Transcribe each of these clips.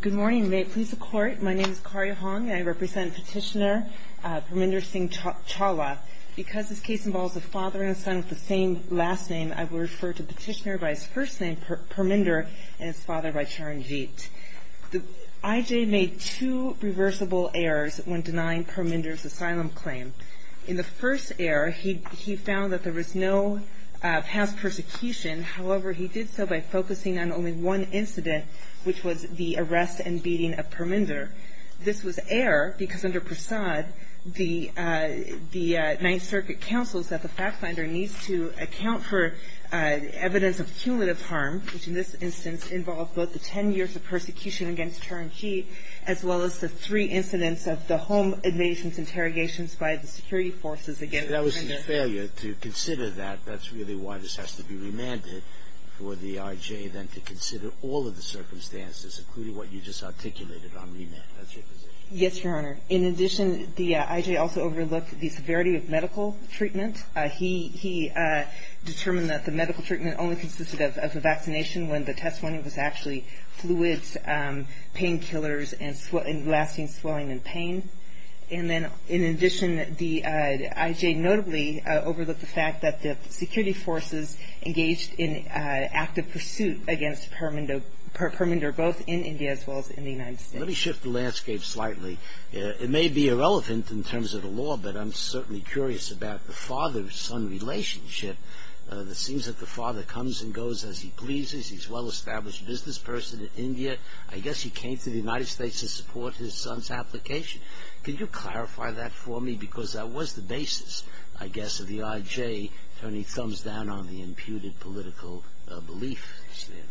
Good morning. May it please the Court, my name is Karya Hong and I represent Petitioner Parminder Singh Chawla. Because this case involves a father and son with the same last name, I will refer to Petitioner by his first name, Parminder, and his father by Charanjeet. I.J. made two reversible errors when denying Parminder's asylum claim. In the first error, he found that there was no past persecution. However, he did so by focusing on only one incident, which was the arrest and beating of Parminder. This was error because under Prasad, the Ninth Circuit counsels that the fact finder needs to account for evidence of cumulative harm, which in this instance involved both the ten years of persecution against Charanjeet, as well as the three incidents of the home invasion interrogations by the security forces against Parminder. That was a failure to consider that. That's really why this has to be remanded for the I.J. then to consider all of the circumstances, including what you just articulated on remand. That's your position. Yes, Your Honor. In addition, the I.J. also overlooked the severity of medical treatment. He determined that the medical treatment only consisted of a vaccination when the test finding was actually fluids, painkillers, and lasting swelling and pain. And then, in addition, the I.J. notably overlooked the fact that the security forces engaged in active pursuit against Parminder both in India as well as in the United States. Let me shift the landscape slightly. It may be irrelevant in terms of the law, but I'm certainly curious about the father-son relationship. It seems that the father comes and goes as he pleases. But I guess he came to the United States to support his son's application. Can you clarify that for me? Because that was the basis, I guess, of the I.J. turning thumbs down on the imputed political belief standard.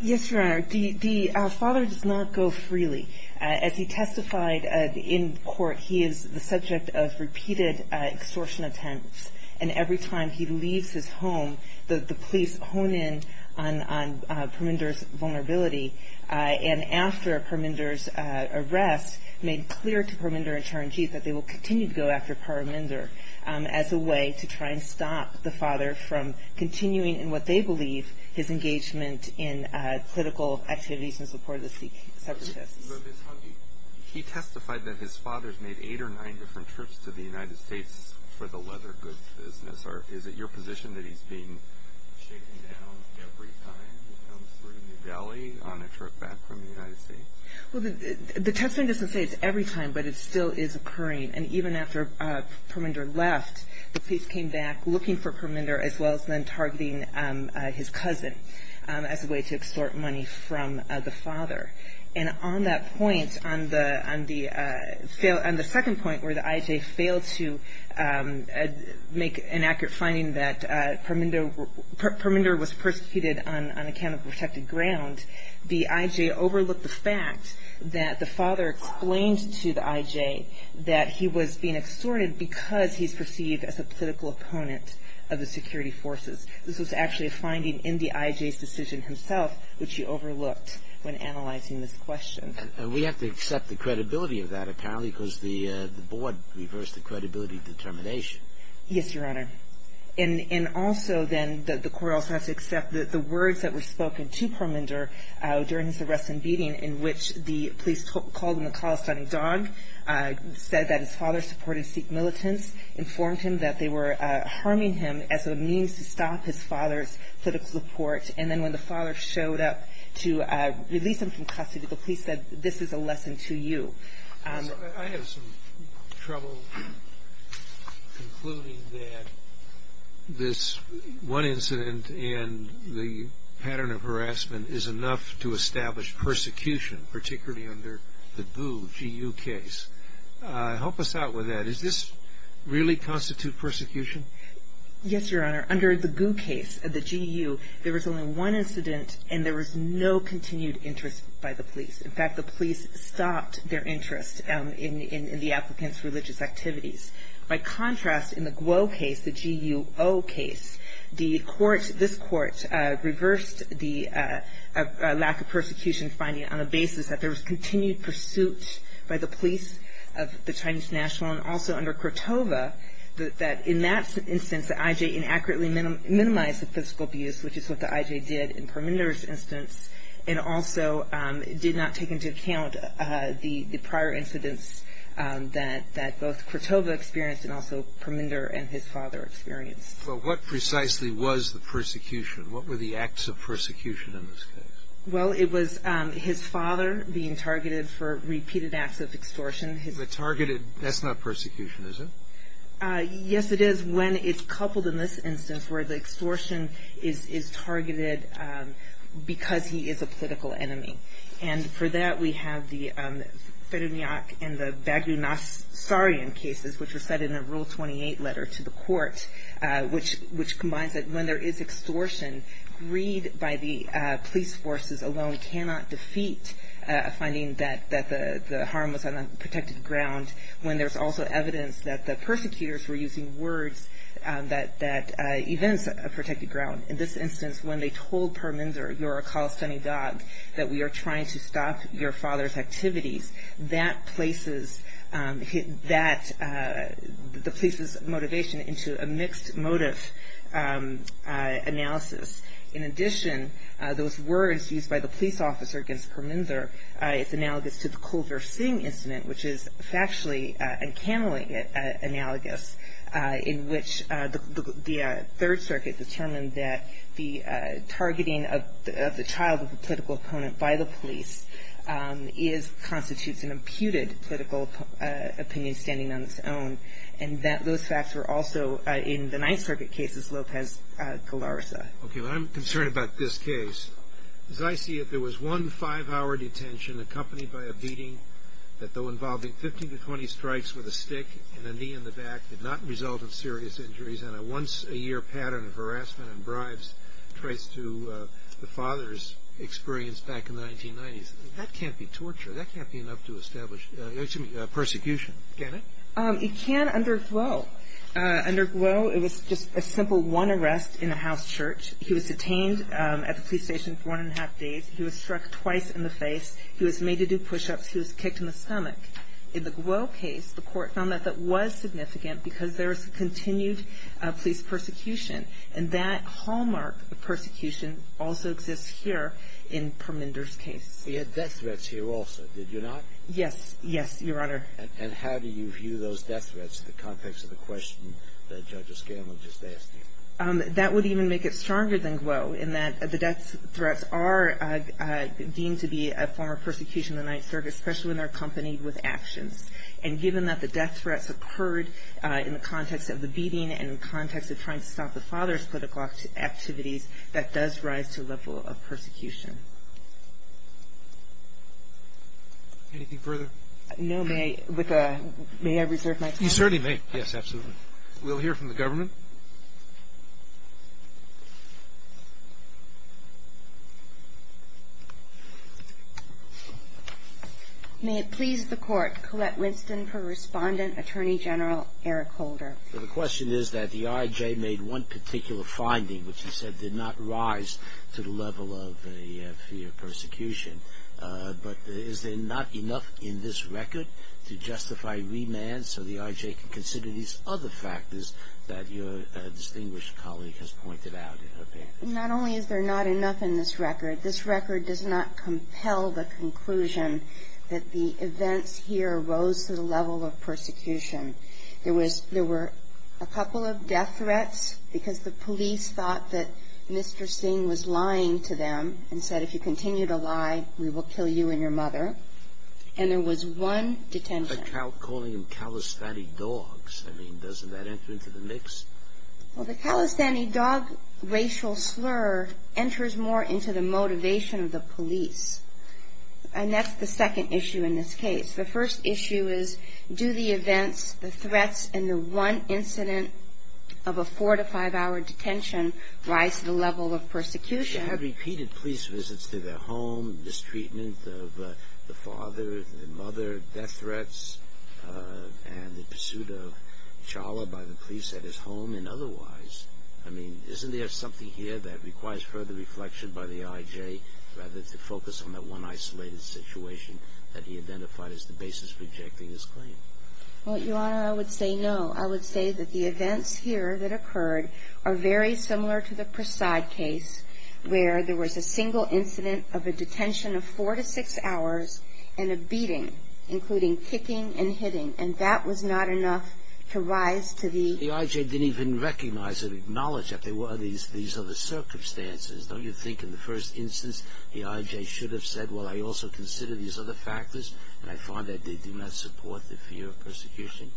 Yes, Your Honor. The father does not go freely. As he testified in court, he is the subject of repeated extortion attempts. And every time he leaves his home, the police hone in on Parminder's vulnerability. And after Parminder's arrest, made clear to Parminder and Charanjeev that they will continue to go after Parminder as a way to try and stop the father from continuing in what they believe his engagement in political activities in support of the separatists. He testified that his father's made eight or nine different trips to the United States for the leather goods business. Is it your position that he's being shaken down every time he comes through New Delhi on a trip back from the United States? Well, the testimony doesn't say it's every time, but it still is occurring. And even after Parminder left, the police came back looking for Parminder, as well as then targeting his cousin as a way to extort money from the father. And on that point, on the second point where the IJ failed to make an accurate finding that Parminder was persecuted on account of protected ground, the IJ overlooked the fact that the father explained to the IJ that he was being extorted because he's perceived as a political opponent of the security forces. This was actually a finding in the IJ's decision himself which he overlooked when analyzing this question. And we have to accept the credibility of that, apparently, because the board reversed the credibility determination. Yes, Your Honor. And also, then, the court also has to accept that the words that were spoken to Parminder during his arrest and beating in which the police called him a calisthenic dog, said that his father supported Sikh militants, the police informed him that they were harming him as a means to stop his father's political support. And then when the father showed up to release him from custody, the police said, this is a lesson to you. I have some trouble concluding that this one incident and the pattern of harassment is enough to establish persecution, particularly under the GU, GU case. Help us out with that. Does this really constitute persecution? Yes, Your Honor. Under the GU case, the GU, there was only one incident and there was no continued interest by the police. In fact, the police stopped their interest in the applicant's religious activities. By contrast, in the GUO case, the G-U-O case, the court, this court, reversed the lack of persecution finding on the basis that there was continued pursuit by the police of the Chinese National and also under Kratova, that in that instance, the IJ inaccurately minimized the physical abuse, which is what the IJ did in Parminder's instance, and also did not take into account the prior incidents that both Kratova experienced and also Parminder and his father experienced. Well, what precisely was the persecution? What were the acts of persecution in this case? Well, it was his father being targeted for repeated acts of extortion. The targeted, that's not persecution, is it? Yes, it is when it's coupled in this instance where the extortion is targeted because he is a political enemy. And for that, we have the Ferenyak and the Bagunasarian cases, which are set in a Rule 28 letter to the court, which combines that when there is extortion, greed by the police forces alone cannot defeat a finding that the harm was on a protected ground when there's also evidence that the persecutors were using words that events a protected ground. In this instance, when they told Parminder, you're a calisthenic dog, that we are trying to stop your father's activities, that places the police's motivation into a mixed motive analysis. In addition, those words used by the police officer against Parminder, it's analogous to the Kulver Singh incident, which is factually and canonically analogous, in which the Third Circuit determined that the targeting of the child of a political opponent by the police constitutes an imputed political opinion standing on its own, and that those facts were also in the Ninth Circuit cases, Lopez-Galarza. Okay. Well, I'm concerned about this case. As I see it, there was one five-hour detention accompanied by a beating that, though involving 15 to 20 strikes with a stick and a knee in the back, did not result in serious injuries and a once-a-year pattern of harassment and bribes traced to the father's experience back in the 1990s. That can't be torture. That can't be enough to establish persecution, can it? It can under glow. Under glow, it was just a simple one arrest in a house church. He was detained at the police station for one and a half days. He was struck twice in the face. He was made to do push-ups. He was kicked in the stomach. In the glow case, the Court found that that was significant because there was continued police persecution, and that hallmark of persecution also exists here in Parminder's case. He had death threats here also, did you not? Yes. Yes, Your Honor. And how do you view those death threats in the context of the question that Judge Escanla just asked you? That would even make it stronger than glow in that the death threats are deemed to be a form of persecution in the Ninth Circuit, especially when they're accompanied with actions. And given that the death threats occurred in the context of the beating and in the context of trying to stop the father's political activities, that does rise to a level of persecution. Anything further? No. May I reserve my time? You certainly may. Yes, absolutely. We'll hear from the government. May it please the Court. Colette Winston for Respondent, Attorney General Eric Holder. The question is that the I.J. made one particular finding, which he said did not rise to the level of the fear of persecution. But is there not enough in this record to justify remand so the I.J. can consider these other factors that your distinguished colleague has pointed out in her opinion? Not only is there not enough in this record, this record does not compel the conclusion that the events here rose to the level of persecution. There were a couple of death threats because the police thought that Mr. Singh was lying to them and said if you continue to lie, we will kill you and your mother. And there was one detention. But calling them Calisthani dogs, I mean, doesn't that enter into the mix? Well, the Calistani dog racial slur enters more into the motivation of the police. And that's the second issue in this case. The first issue is do the events, the threats, and the one incident of a four- to five-hour detention rise to the level of persecution? They had repeated police visits to their home, mistreatment of the father, the mother, death threats, and the pursuit of a child by the police at his home and otherwise. I mean, isn't there something here that requires further reflection by the I.J. rather than to focus on that one isolated situation that he identified as the basis for rejecting his claim? Well, Your Honor, I would say no. I would say that the events here that occurred are very similar to the Prasad case. Where there was a single incident of a detention of four to six hours and a beating, including kicking and hitting. And that was not enough to rise to the... The I.J. didn't even recognize or acknowledge that there were these other circumstances. Don't you think in the first instance the I.J. should have said, well, I also consider these other factors, and I find that they do not support the fear of persecution?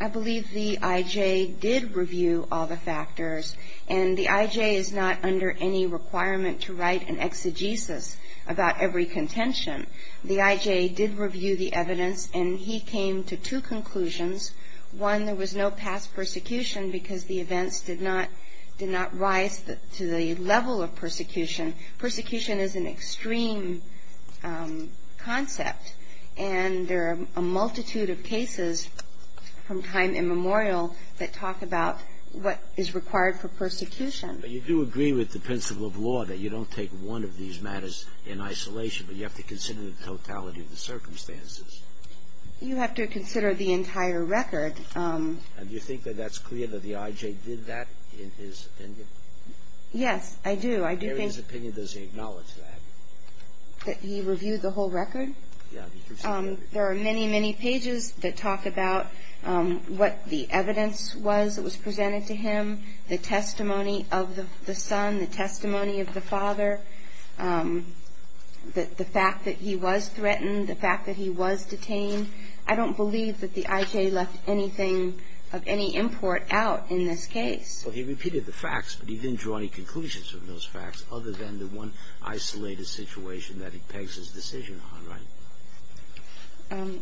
I believe the I.J. did review all the factors. And the I.J. is not under any requirement to write an exegesis about every contention. The I.J. did review the evidence, and he came to two conclusions. One, there was no past persecution because the events did not rise to the level of persecution. Persecution is an extreme concept, and there are a multitude of cases from time immemorial that talk about what is required for persecution. But you do agree with the principle of law that you don't take one of these matters in isolation, but you have to consider the totality of the circumstances. You have to consider the entire record. And do you think that that's clear that the I.J. did that in his opinion? Yes, I do. I do think... In his opinion, does he acknowledge that? That he reviewed the whole record? There are many, many pages that talk about what the evidence was that was presented to him, the testimony of the son, the testimony of the father, the fact that he was threatened, the fact that he was detained. I don't believe that the I.J. left anything of any import out in this case. Well, he repeated the facts, but he didn't draw any conclusions from those facts other than the one isolated situation that he pegs his decision on, right?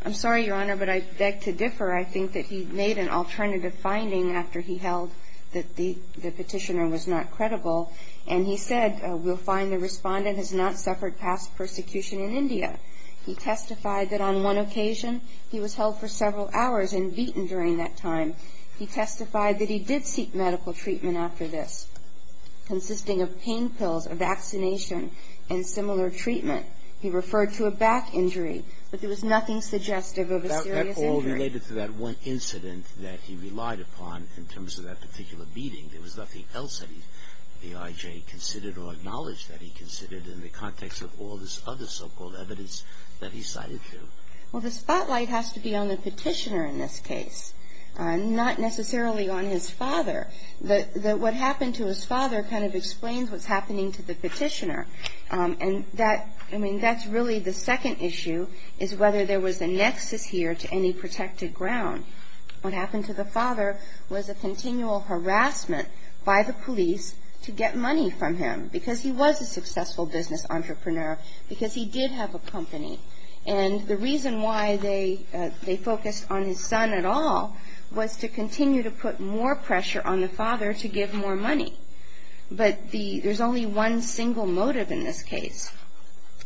I'm sorry, Your Honor, but I beg to differ. I think that he made an alternative finding after he held that the Petitioner was not credible, and he said, We'll find the Respondent has not suffered past persecution in India. He testified that on one occasion he was held for several hours and beaten during that time. He testified that he did seek medical treatment after this, consisting of pain pills, a vaccination, and similar treatment. He referred to a back injury, but there was nothing suggestive of a serious injury. That all related to that one incident that he relied upon in terms of that particular beating. There was nothing else that he, the I.J., considered or acknowledged that he considered in the context of all this other so-called evidence that he cited here. Well, the spotlight has to be on the Petitioner in this case. Not necessarily on his father. What happened to his father kind of explains what's happening to the Petitioner. And that's really the second issue, is whether there was a nexus here to any protected ground. What happened to the father was a continual harassment by the police to get money from him, because he was a successful business entrepreneur, because he did have a company. And the reason why they focused on his son at all was to continue to put more pressure on the father to give more money. But there's only one single motive in this case.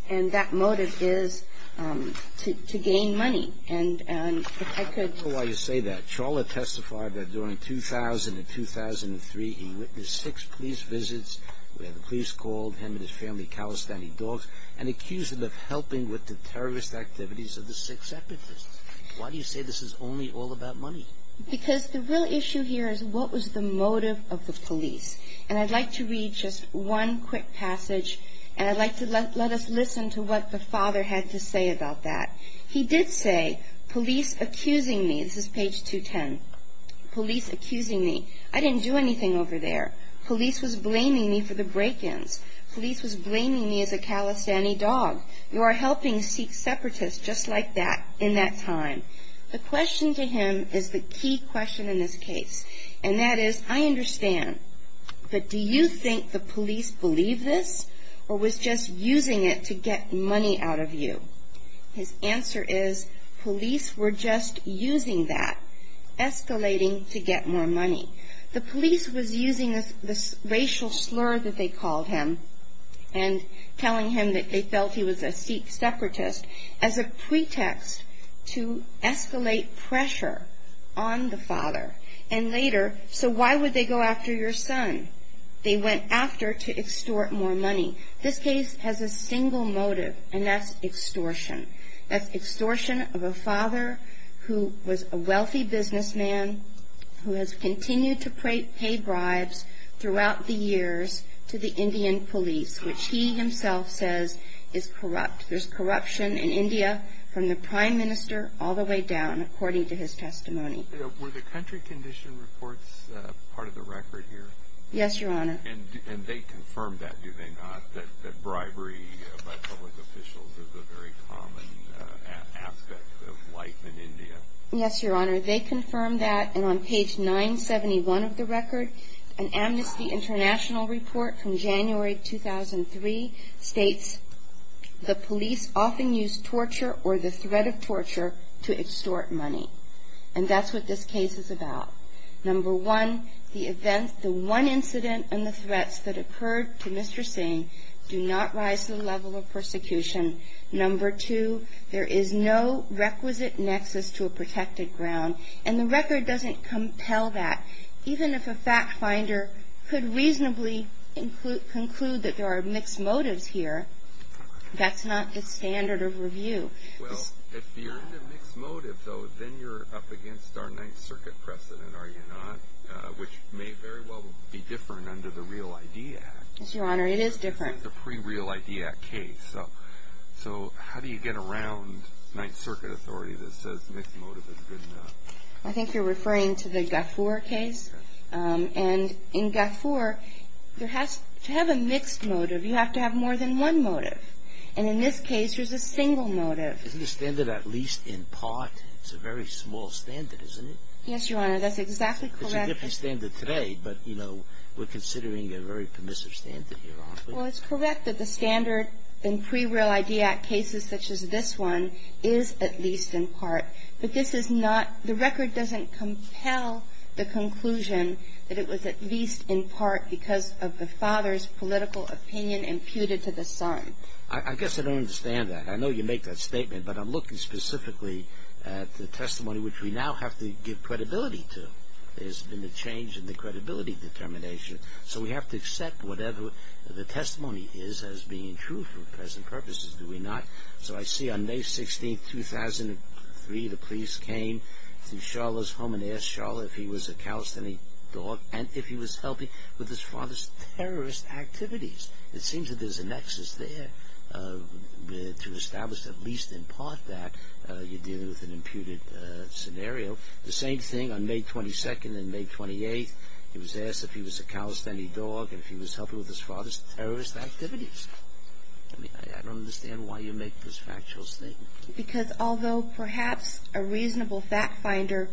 And that motive is to gain money. And I could ‑‑ I don't know why you say that. Chawla testified that during 2000 and 2003, he witnessed six police visits where the terrorist activities of the six separatists. Why do you say this is only all about money? Because the real issue here is what was the motive of the police. And I'd like to read just one quick passage, and I'd like to let us listen to what the father had to say about that. He did say, police accusing me. This is page 210. Police accusing me. I didn't do anything over there. Police was blaming me for the break-ins. Police was blaming me as a calisthenic dog. You are helping Sikh separatists just like that in that time. The question to him is the key question in this case. And that is, I understand. But do you think the police believe this or was just using it to get money out of you? His answer is, police were just using that, escalating to get more money. The police was using this racial slur that they called him and telling him that they felt he was a Sikh separatist as a pretext to escalate pressure on the father. And later, so why would they go after your son? They went after to extort more money. This case has a single motive, and that's extortion. That's extortion of a father who was a wealthy businessman who has continued to pay bribes throughout the years to the Indian police, which he himself says is corrupt. There's corruption in India from the prime minister all the way down, according to his testimony. Were the country condition reports part of the record here? Yes, Your Honor. And they confirmed that, do they not, that bribery by public officials is a very common aspect of life in India? Yes, Your Honor. They confirmed that. And on page 971 of the record, an Amnesty International report from January 2003 states, the police often use torture or the threat of torture to extort money. And that's what this case is about. Number one, the events, the one incident and the threats that occurred to Mr. Singh do not rise to the level of persecution. Number two, there is no requisite nexus to a protected ground. And the record doesn't compel that. Even if a fact finder could reasonably conclude that there are mixed motives here, that's not the standard of review. Well, if you're in a mixed motive, though, then you're up against our Ninth Circuit precedent, are you not, which may very well be different under the Real ID Act. Yes, Your Honor, it is different. This is a pre-Real ID Act case. So how do you get around Ninth Circuit authority that says mixed motive is good enough? I think you're referring to the Gafoor case. And in Gafoor, to have a mixed motive, you have to have more than one motive. And in this case, there's a single motive. Isn't the standard at least in part, it's a very small standard, isn't it? Yes, Your Honor, that's exactly correct. It's a different standard today, but, you know, we're considering a very permissive standard here, aren't we? Well, it's correct that the standard in pre-Real ID Act cases such as this one is at least in part. But this is not, the record doesn't compel the conclusion that it was at least in part because of the father's political opinion imputed to the son. I guess I don't understand that. I know you make that statement, but I'm looking specifically at the testimony which we now have to give credibility to. There's been a change in the credibility determination. So we have to accept whatever the testimony is as being true for present purposes, do we not? So I see on May 16, 2003, the police came to Sharla's home and asked Sharla if he was a Calisthenic dog and if he was helping with his father's terrorist activities. It seems that there's a nexus there to establish at least in part that you're dealing with an imputed scenario. The same thing on May 22 and May 28, he was asked if he was a Calisthenic dog and if he was helping with his father's terrorist activities. I mean, I don't understand why you make this factual statement. Because although perhaps a reasonable fact finder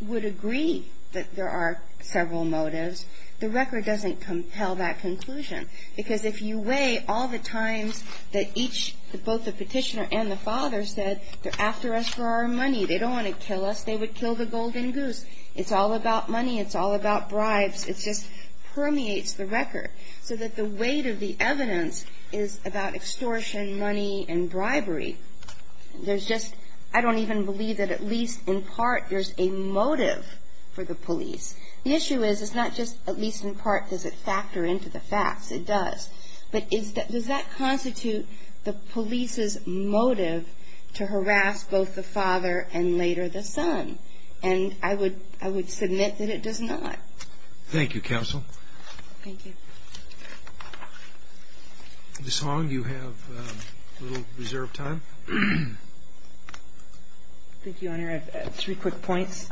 would agree that there are several motives, the record doesn't compel that conclusion. Because if you weigh all the times that each, both the petitioner and the father said, they're after us for our money, they don't want to kill us, they would kill the golden goose. It's all about money. It's all about bribes. It just permeates the record. So that the weight of the evidence is about extortion, money, and bribery. There's just, I don't even believe that at least in part there's a motive for the police. The issue is it's not just at least in part does it factor into the facts. It does. But does that constitute the police's motive to harass both the father and later the son? And I would submit that it does not. Thank you, Counsel. Thank you. Ms. Hong, you have a little reserved time. Thank you, Your Honor. I have three quick points.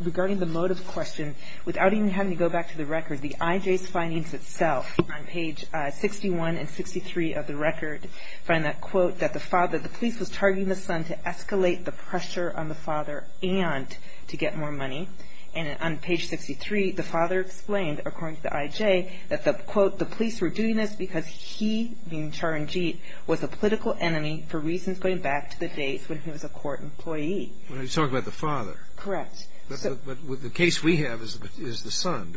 Regarding the motive question, without even having to go back to the record, the IJ's findings itself on page 61 and 63 of the record find that, quote, that the police was targeting the son to escalate the pressure on the father and to get more money. And on page 63, the father explained, according to the IJ, that, quote, the police were doing this because he, being Charanjit, was a political enemy for reasons going back to the days when he was a court employee. You're talking about the father. Correct. But the case we have is the son.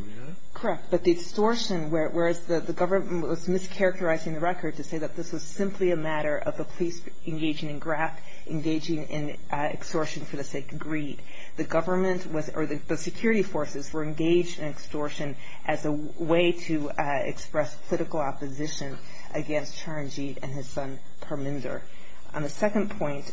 Correct. But the extortion, whereas the government was mischaracterizing the record to say that this was simply a matter of the police engaging in extortion for the sake of greed, the government or the security forces were engaged in extortion as a way to express political opposition against Charanjit and his son Parminzar. On the second point,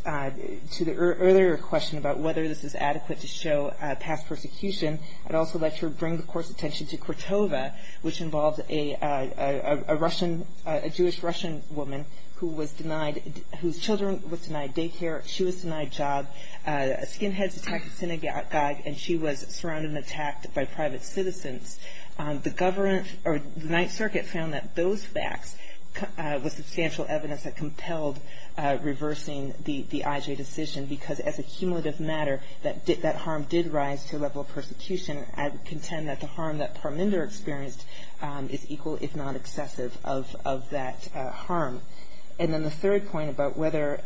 to the earlier question about whether this is adequate to show past persecution, I'd also like to bring the Court's attention to Kortova, which involves a Russian, a Jewish-Russian woman who was denied, whose children were denied daycare. She was denied a job. Skinheads attacked a synagogue, and she was surrounded and attacked by private citizens. The government or the Ninth Circuit found that those facts were substantial evidence that compelled reversing the IJ decision because, as a cumulative matter, that harm did rise to a level of persecution. I would contend that the harm that Parminzar experienced is equal, if not excessive, of that harm. And then the third point about whether,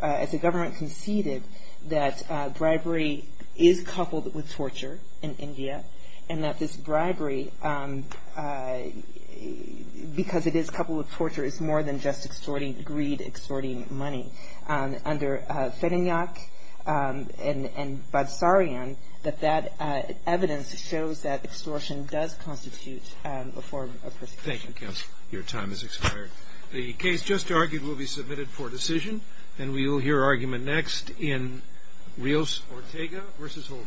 as the government conceded that bribery is coupled with torture in India and that this bribery, because it is coupled with torture, is more than just extorting greed, extorting money. Under Fedinyak and Badsarian, that evidence shows that extortion does constitute a form of persecution. Thank you, Counsel. Your time has expired. The case just argued will be submitted for decision, and we will hear argument next in Rios-Ortega v. Holder.